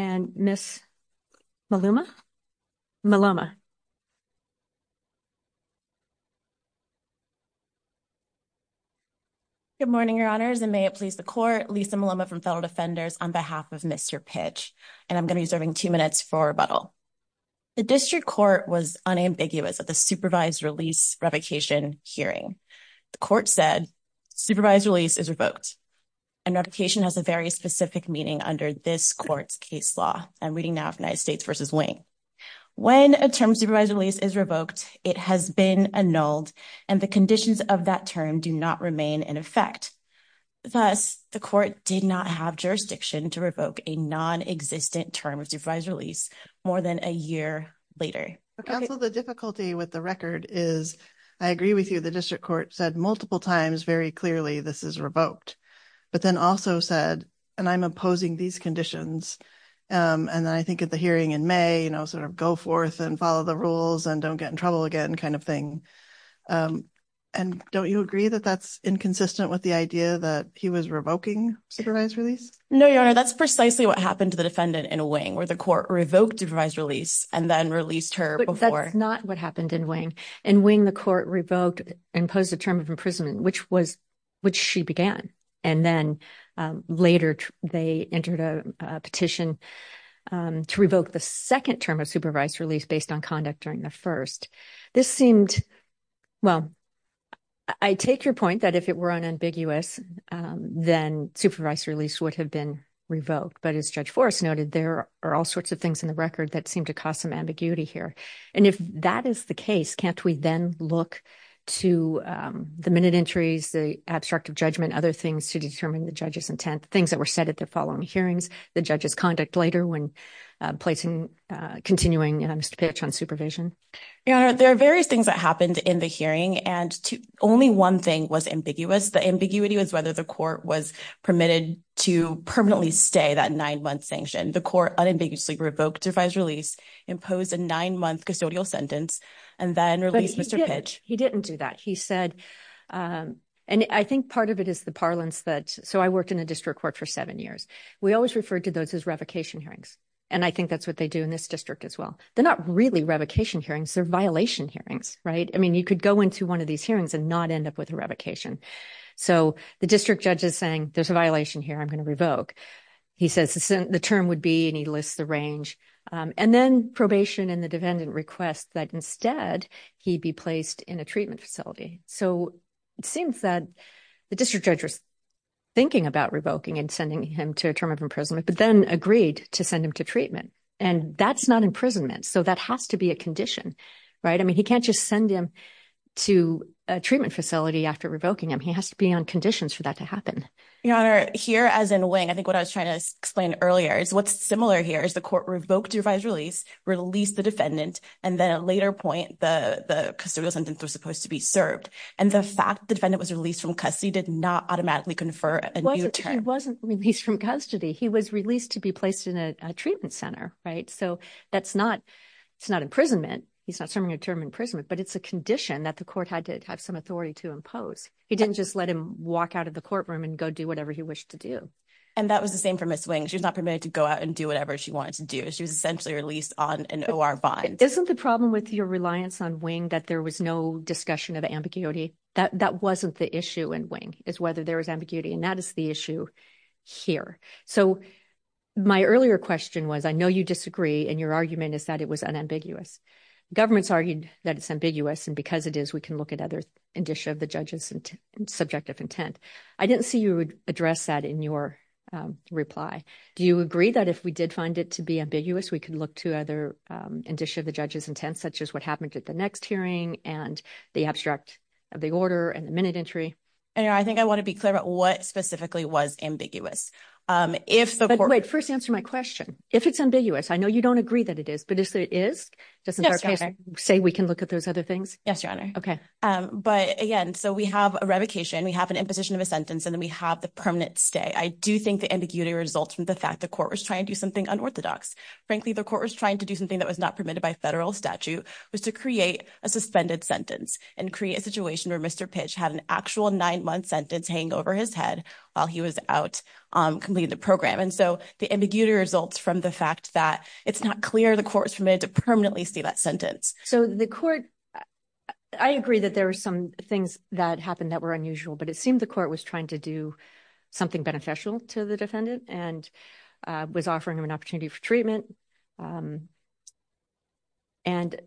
and Ms. Maluma Maluma. Good morning your honors and may it please the court Lisa Maluma from fellow defenders on behalf of Mr. pitch and I'm going to be serving two minutes for rebuttal. The district court was unambiguous at the supervised release revocation hearing. The court said supervised release is revoked. And application has a very specific meaning under this court's case law. I'm reading now of United States versus wing. When a term supervised release is revoked, it has been annulled and the conditions of that term do not remain in effect. Thus, the court did not have jurisdiction to revoke a non existent term of supervised release more than a year later. The difficulty with the record is, I agree with you. The district court said multiple times very clearly. This is revoked. But then also said, and I'm opposing these conditions. And then I think at the hearing in May, you know, sort of go forth and follow the rules and don't get in trouble again kind of thing. And don't you agree that that's inconsistent with the idea that he was revoking supervised release? No, your honor. That's precisely what happened to the defendant in a wing where the court revoked device release and then released her before. That's not what happened in wing and wing the court revoked imposed a term of imprisonment, which was which she began. And then later they entered a petition to revoke the second term of supervised release based on conduct during the first. This seemed well, I take your point that if it were unambiguous, then supervised release would have been revoked. But as Judge Forrest noted, there are all sorts of things in the record that seem to cause some ambiguity here. And if that is the case, can't we then look to the minute entries, the abstract of judgment, other things to determine the judge's intent, things that were said at the following hearings. The judge's conduct later when placing continuing Mr. Pitch on supervision. There are various things that happened in the hearing. And only one thing was ambiguous. The ambiguity was whether the court was permitted to permanently stay that nine month sanction. The court unambiguously revoked revised release, imposed a nine month custodial sentence and then released Mr. Pitch. He didn't do that, he said. And I think part of it is the parlance that. So I worked in a district court for seven years. We always referred to those as revocation hearings. And I think that's what they do in this district as well. They're not really revocation hearings. They're violation hearings. Right. I mean, you could go into one of these hearings and not end up with a revocation. So the district judge is saying there's a violation here. I'm going to revoke. He says the term would be and he lists the range and then probation and the defendant request that instead he be placed in a treatment facility. So it seems that the district judge was thinking about revoking and sending him to a term of imprisonment, but then agreed to send him to treatment. And that's not imprisonment. So that has to be a condition. Right. I mean, he can't just send him to a treatment facility after revoking him. He has to be on conditions for that to happen. Your Honor, here as in wing, I think what I was trying to explain earlier is what's similar here is the court revoked revised release, released the defendant. And then a later point, the custodial sentence was supposed to be served. And the fact the defendant was released from custody did not automatically confer a new term. He wasn't released from custody. He was released to be placed in a treatment center. Right. So that's not it's not imprisonment. He's not serving a term imprisonment, but it's a condition that the court had to have some authority to impose. He didn't just let him walk out of the courtroom and go do whatever he wished to do. And that was the same for Ms. Wing. She was not permitted to go out and do whatever she wanted to do. She was essentially released on an O.R. bond. Isn't the problem with your reliance on wing that there was no discussion of ambiguity? That wasn't the issue in wing is whether there was ambiguity. And that is the issue here. So my earlier question was, I know you disagree. And your argument is that it was unambiguous. Governments argued that it's ambiguous. And because it is, we can look at other indicia of the judge's subjective intent. I didn't see you address that in your reply. Do you agree that if we did find it to be ambiguous, we could look to other indicia of the judge's intent, such as what happened at the next hearing and the abstract of the order and the minute entry? And I think I want to be clear about what specifically was ambiguous. But wait, first answer my question. If it's ambiguous, I know you don't agree that it is, but if it is, doesn't our case say we can look at those other things? Yes, Your Honor. But again, so we have a revocation. We have an imposition of a sentence and then we have the permanent stay. I do think the ambiguity results from the fact the court was trying to do something unorthodox. Frankly, the court was trying to do something that was not permitted by federal statute was to create a suspended sentence and create a situation where Mr. his head while he was out completing the program. And so the ambiguity results from the fact that it's not clear the court's permitted to permanently see that sentence. So the court, I agree that there are some things that happened that were unusual, but it seemed the court was trying to do something beneficial to the defendant and was offering him an opportunity for treatment. And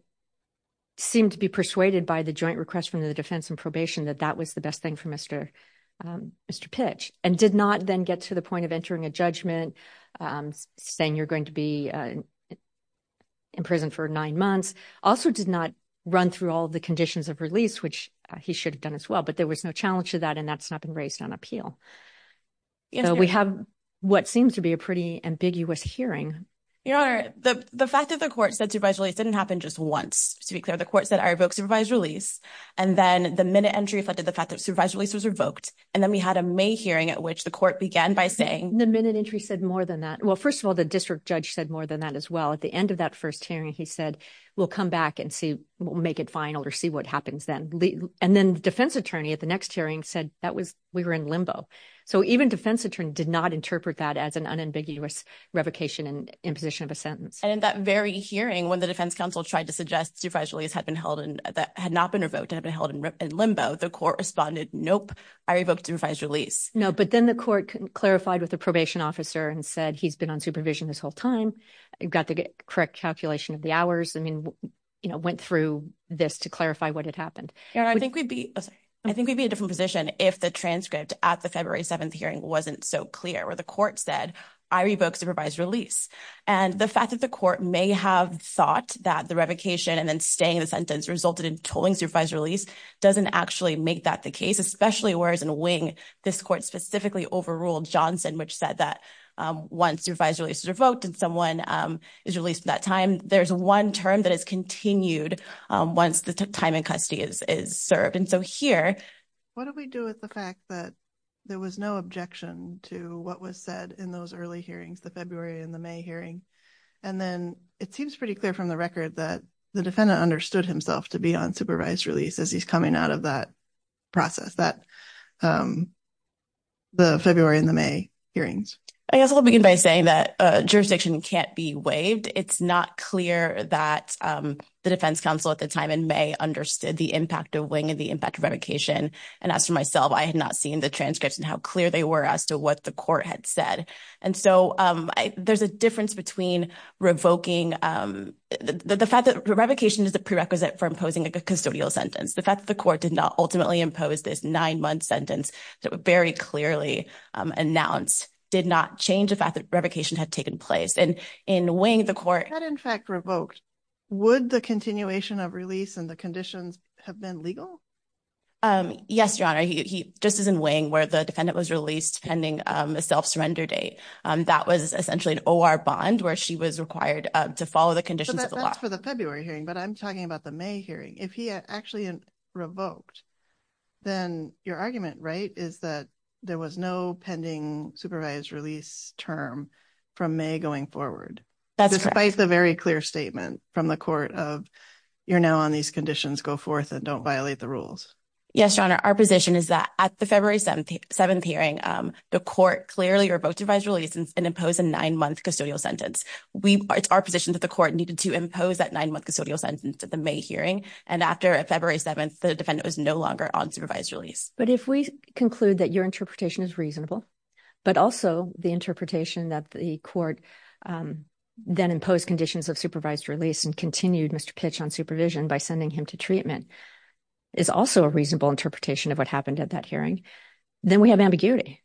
seemed to be persuaded by the joint request from the defense and probation that that was the best thing for Mr. Mr. Pitch and did not then get to the point of entering a judgment saying you're going to be in prison for nine months. Also did not run through all the conditions of release, which he should have done as well. But there was no challenge to that. And that's not been raised on appeal. We have what seems to be a pretty ambiguous hearing. The fact of the court said to visually, it didn't happen just once to be clear. The court said I revoke supervised release. And then the minute entry affected the fact that supervised release was revoked. And then we had a May hearing at which the court began by saying the minute entry said more than that. Well, first of all, the district judge said more than that as well. At the end of that first hearing, he said, we'll come back and see, we'll make it final or see what happens then. And then the defense attorney at the next hearing said that was we were in limbo. So even defense attorney did not interpret that as an unambiguous revocation and imposition of a sentence. And in that very hearing, when the defense counsel tried to suggest supervised release had been held and that had not been revoked, had been held in limbo, the court responded, nope, I revoked supervised release. No, but then the court clarified with the probation officer and said he's been on supervision this whole time. Got the correct calculation of the hours. I mean, went through this to clarify what had happened. I think we'd be a different position if the transcript at the February 7th hearing wasn't so clear where the court said I revoke supervised release. And the fact that the court may have thought that the revocation and then staying in the sentence resulted in tolling supervised release doesn't actually make that the case, especially whereas in wing, this court specifically overruled Johnson, which said that once supervised release was revoked, and someone is released at that time, there's one term that is continued once the time in custody is served. And so here, what do we do with the fact that there was no objection to what was said in those early hearings, the February and the May hearing? And then it seems pretty clear from the record that the defendant understood himself to be on supervised release as he's coming out of that process that the February and the May hearings. I guess I'll begin by saying that jurisdiction can't be waived. It's not clear that the defense counsel at the time in May understood the impact of wing and the impact of revocation. And as for myself, I had not seen the transcripts and how clear they were as to what the court had said. And so there's a difference between revoking the fact that revocation is a prerequisite for imposing a custodial sentence. The fact that the court did not ultimately impose this nine-month sentence that were very clearly announced did not change the fact that revocation had taken place. And in wing, the court had in fact revoked. Would the continuation of release and the conditions have been legal? Yes, Your Honor. He just is in wing where the defendant was released pending a self-surrender date. That was essentially an O.R. bond where she was required to follow the conditions of the law. That's for the February hearing, but I'm talking about the May hearing. If he actually revoked, then your argument, right, is that there was no pending supervised release term from May going forward. That's correct. I think that's a very clear statement from the court of you're now on these conditions, go forth and don't violate the rules. Yes, Your Honor. Our position is that at the February 7th hearing, the court clearly revoked supervised release and imposed a nine-month custodial sentence. It's our position that the court needed to impose that nine-month custodial sentence at the May hearing. And after February 7th, the defendant was no longer on supervised release. But if we conclude that your interpretation is reasonable, but also the interpretation that the court then imposed conditions of supervised release and continued Mr. Pitch on supervision by sending him to treatment is also a reasonable interpretation of what happened at that hearing. Then we have ambiguity.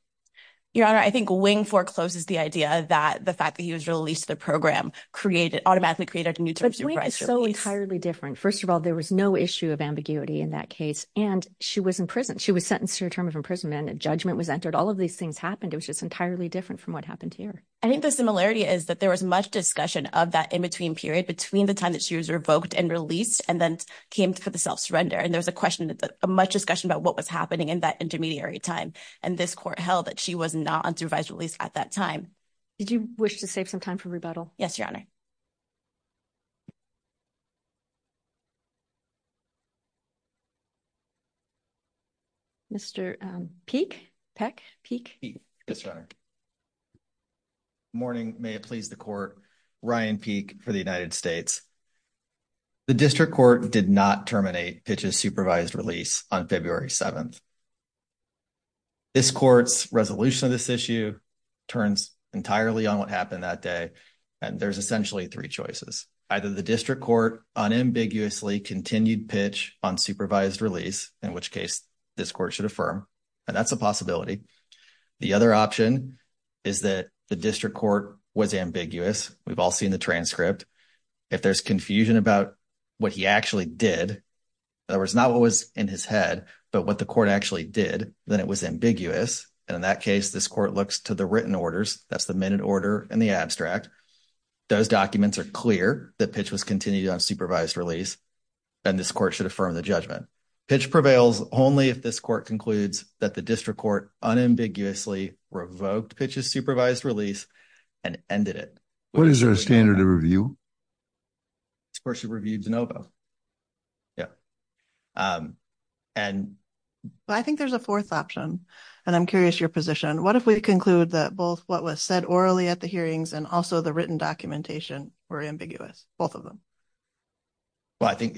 Your Honor, I think wing forecloses the idea that the fact that he was released the program created automatically created a new term. So entirely different. First of all, there was no issue of ambiguity in that case. And she was in prison. She was sentenced to a term of imprisonment. Judgment was entered. All of these things happened. It was just entirely different from what happened here. I think the similarity is that there was much discussion of that in-between period between the time that she was revoked and released and then came to the self-surrender. And there was a question of much discussion about what was happening in that intermediary time. And this court held that she was not on supervised release at that time. Did you wish to save some time for rebuttal? Yes, Your Honor. Mr. Peek? Yes, Your Honor. Good morning. May it please the court. Ryan Peek for the United States. The district court did not terminate Pitch's supervised release on February 7th. This court's resolution of this issue turns entirely on what happened that day. And there's essentially three choices. Either the district court unambiguously continued Pitch on supervised release, in which case this court should affirm. And that's a possibility. The other option is that the district court was ambiguous. We've all seen the transcript. If there's confusion about what he actually did, in other words, not what was in his head, but what the court actually did, then it was ambiguous. And in that case, this court looks to the written orders. That's the minute order in the abstract. Those documents are clear that Pitch was continued on supervised release, and this court should affirm the judgment. Pitch prevails only if this court concludes that the district court unambiguously revoked Pitch's supervised release and ended it. What is our standard of review? This court should review DeNovo. Yeah. And. I think there's a fourth option. And I'm curious your position. What if we conclude that both what was said orally at the hearings and also the written documentation were ambiguous, both of them? Well, I think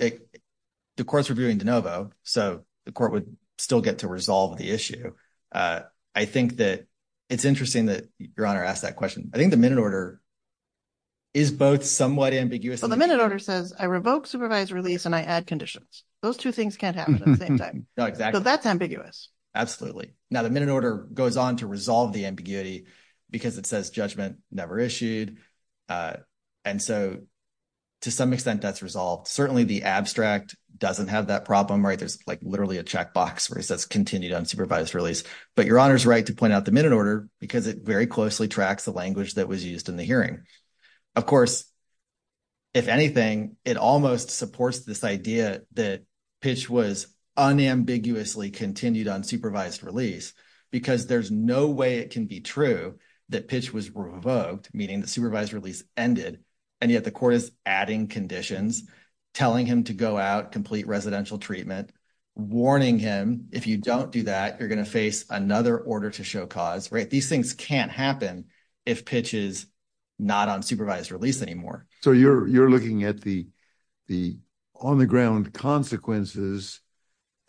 the court's reviewing DeNovo, so the court would still get to resolve the issue. I think that it's interesting that Your Honor asked that question. I think the minute order is both somewhat ambiguous. The minute order says I revoke supervised release and I add conditions. Those two things can't happen at the same time. So that's ambiguous. Absolutely. Now, the minute order goes on to resolve the ambiguity because it says judgment never issued. And so, to some extent, that's resolved. Certainly the abstract doesn't have that problem, right? There's, like, literally a checkbox where it says continued unsupervised release. But Your Honor's right to point out the minute order because it very closely tracks the language that was used in the hearing. Of course, if anything, it almost supports this idea that Pitch was unambiguously continued unsupervised release because there's no way it can be true that Pitch was revoked, meaning the supervised release ended. And yet the court is adding conditions, telling him to go out, complete residential treatment, warning him if you don't do that, you're going to face another order to show cause, right? Those things can't happen if Pitch is not on supervised release anymore. So you're looking at the on-the-ground consequences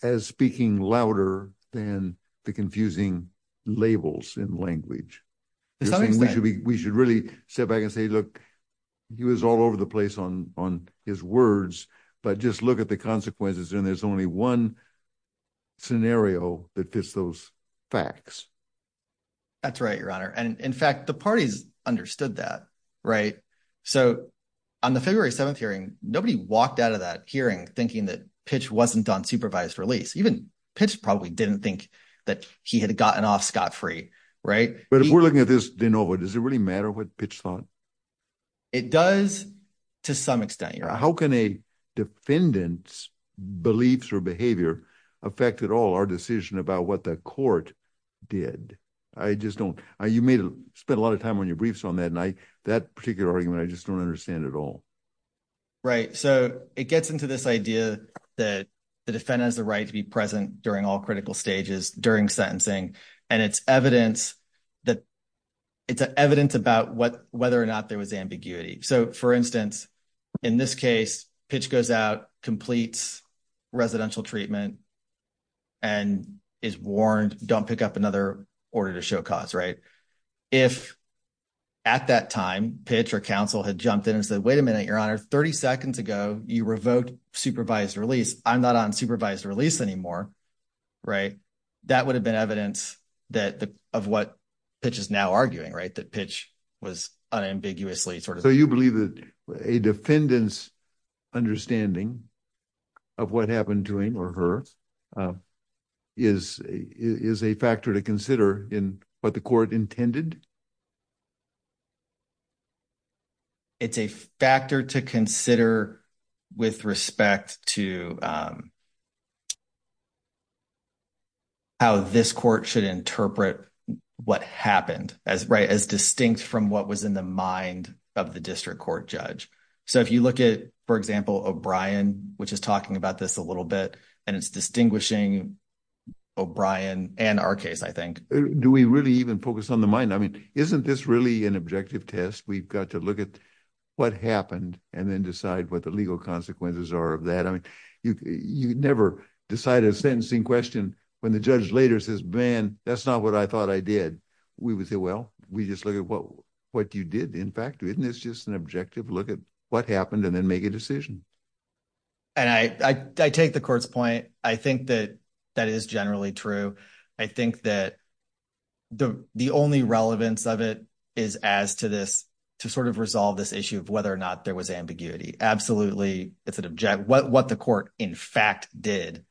as speaking louder than the confusing labels in language. To some extent. We should really step back and say, look, he was all over the place on his words, but just look at the consequences, and there's only one scenario that fits those facts. That's right, Your Honor. And in fact, the parties understood that, right? So on the February 7th hearing, nobody walked out of that hearing thinking that Pitch wasn't on supervised release. Even Pitch probably didn't think that he had gotten off scot-free, right? But if we're looking at this de novo, does it really matter what Pitch thought? It does to some extent, Your Honor. How can a defendant's beliefs or behavior affect at all our decision about what the court did? I just don't. You may have spent a lot of time on your briefs on that night. That particular argument, I just don't understand at all. Right. So it gets into this idea that the defendant has the right to be present during all critical stages during sentencing, and it's evidence that it's evidence about whether or not there was ambiguity. So, for instance, in this case, Pitch goes out, completes residential treatment, and is warned, don't pick up another order to show cause, right? If at that time, Pitch or counsel had jumped in and said, wait a minute, Your Honor, 30 seconds ago, you revoked supervised release. I'm not on supervised release anymore, right? That would have been evidence of what Pitch is now arguing, right? So you believe that a defendant's understanding of what happened to him or her is a factor to consider in what the court intended? It's a factor to consider with respect to how this court should interpret what happened as distinct from what was in the mind of the district court judge. So if you look at, for example, O'Brien, which is talking about this a little bit, and it's distinguishing O'Brien and our case, I think. Do we really even focus on the mind? I mean, isn't this really an objective test? We've got to look at what happened and then decide what the legal consequences are of that. I mean, you never decide a sentencing question when the judge later says, man, that's not what I thought I did. We would say, well, we just look at what you did. In fact, isn't this just an objective look at what happened and then make a decision? And I take the court's point. I think that that is generally true. I think that the only relevance of it is as to this to sort of resolve this issue of whether or not there was ambiguity. Absolutely. It's an object. What what the court, in fact, did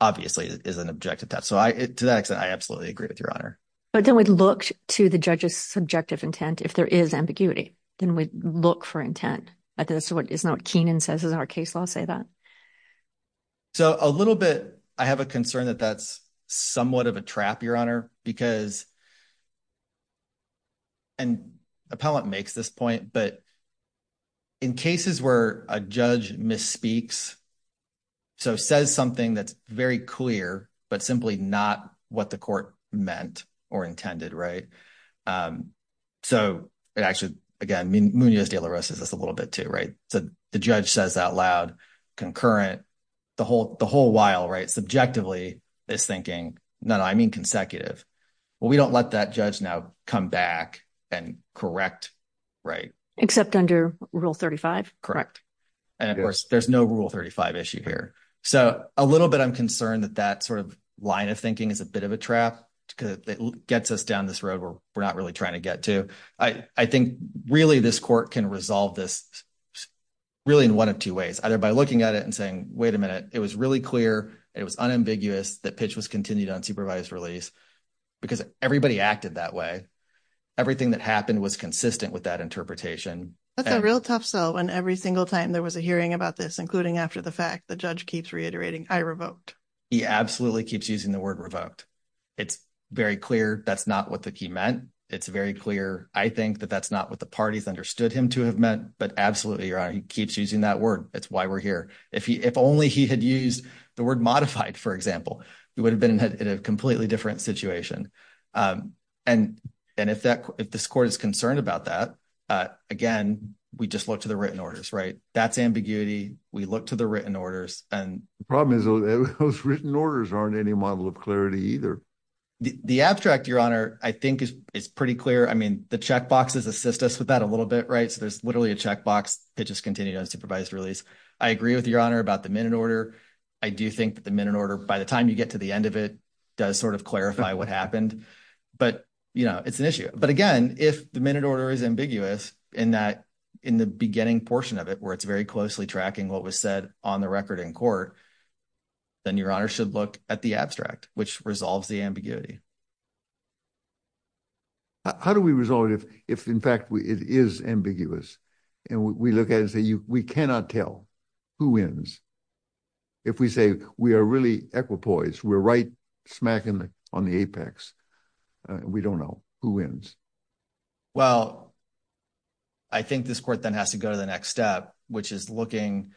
obviously is an objective test. So to that extent, I absolutely agree with your honor. But then we'd look to the judge's subjective intent. If there is ambiguity, then we look for intent. That's what is not Keenan says in our case. I'll say that. So a little bit, I have a concern that that's somewhat of a trap, your honor, because. And appellate makes this point, but. In cases where a judge misspeaks. So says something that's very clear, but simply not what the court meant or intended, right? So it actually, again, Munoz de la Rosa says a little bit, too, right? So the judge says out loud concurrent the whole the whole while, right? Subjectively is thinking, no, I mean, consecutive. Well, we don't let that judge now come back and correct. Right, except under rule 35. Correct. And of course, there's no rule 35 issue here. So a little bit, I'm concerned that that sort of line of thinking is a bit of a trap because it gets us down this road where we're not really trying to get to. I think really, this court can resolve this really in one of two ways, either by looking at it and saying, wait a minute, it was really clear. It was unambiguous that pitch was continued on supervised release because everybody acted that way. Everything that happened was consistent with that interpretation. That's a real tough sell. And every single time there was a hearing about this, including after the fact, the judge keeps reiterating I revoked. He absolutely keeps using the word revoked. It's very clear. That's not what the key meant. It's very clear. I think that that's not what the parties understood him to have meant. But absolutely. He keeps using that word. That's why we're here. If he if only he had used the word modified, for example, we would have been in a completely different situation. And and if that if this court is concerned about that, again, we just look to the written orders. Right. That's ambiguity. We look to the written orders. And the problem is those written orders aren't any model of clarity either. The abstract, your honor, I think is it's pretty clear. I mean, the checkboxes assist us with that a little bit. Right. So there's literally a checkbox. It just continued on supervised release. I agree with your honor about the minute order. I do think that the minute order, by the time you get to the end of it, does sort of clarify what happened. But, you know, it's an issue. But again, if the minute order is ambiguous in that in the beginning portion of it, where it's very closely tracking what was said on the record in court, then your honor should look at the abstract, which resolves the ambiguity. How do we resolve it if if, in fact, it is ambiguous and we look at it, we cannot tell who wins. If we say we are really equipoise, we're right smack on the apex. We don't know who wins. Well, I think this court then has to go to the next step, which is looking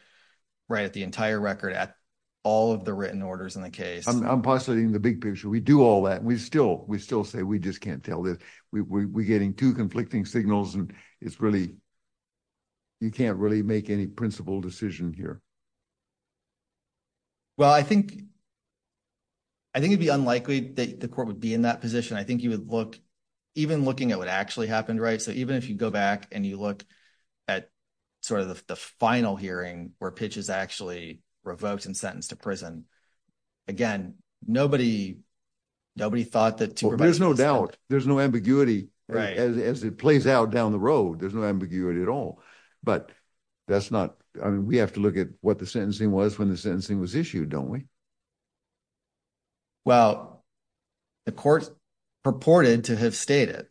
right at the entire record at all of the written orders in the case. I'm positing the big picture. We do all that. We still we still say we just can't tell that we're getting two conflicting signals. And it's really you can't really make any principled decision here. Well, I think I think it'd be unlikely that the court would be in that position. I think you would look even looking at what actually happened. Right. So even if you go back and you look at sort of the final hearing where pitches actually revoked and sentenced to prison. Again, nobody nobody thought that there's no doubt there's no ambiguity as it plays out down the road. There's no ambiguity at all. But that's not I mean, we have to look at what the sentencing was when the sentencing was issued. Don't we. Well, the court purported to have stated,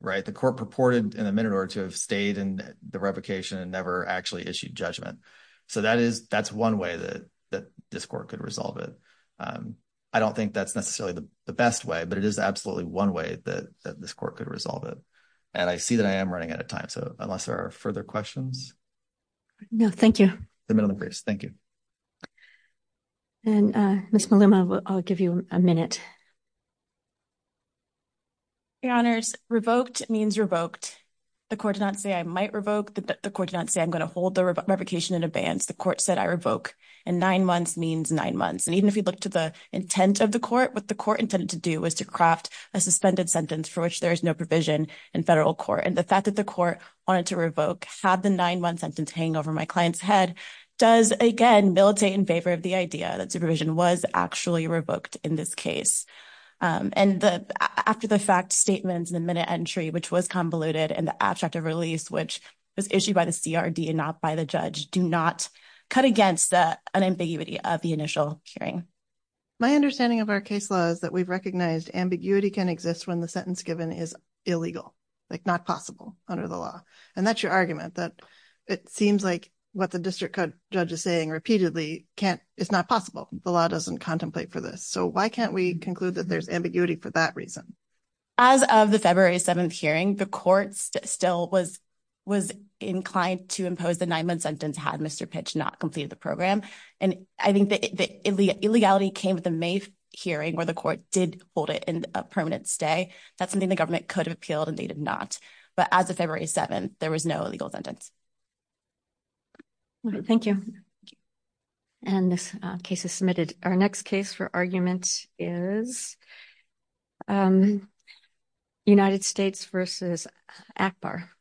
right, the court purported in a minute or two have stayed in the replication and never actually issued judgment. So that is that's one way that that this court could resolve it. I don't think that's necessarily the best way but it is absolutely one way that this court could resolve it. And I see that I am running out of time so unless there are further questions. No, thank you. Thank you. And Miss Maluma, I'll give you a minute. Your Honors revoked means revoked. The court did not say I might revoke the court did not say I'm going to hold the replication in advance. The court said I revoke and nine months means nine months. And even if you look to the intent of the court with the court intended to do was to craft a suspended sentence for which there is no provision in federal court and the fact that the court wanted to revoke had the nine month sentence hang over my client's head does again militate in favor of the idea that supervision was actually revoked in this case. And the after the fact statements in the minute entry which was convoluted and the abstract of release which was issued by the CRD and not by the judge do not cut against the unambiguity of the initial hearing. My understanding of our case laws that we've recognized ambiguity can exist when the sentence given is illegal, like not possible under the law. And that's your argument that it seems like what the district judge is saying repeatedly can't. It's not possible. The law doesn't contemplate for this so why can't we conclude that there's ambiguity for that reason. As of the February 7 hearing the courts still was was inclined to impose the nine month sentence had Mr pitch not completed the program. And I think that the illegality came with the main hearing where the court did hold it in a permanent stay. That's something the government could have appealed and they did not. But as of February 7, there was no legal sentence. Thank you. And this case is submitted. Our next case for argument is United States versus Akbar.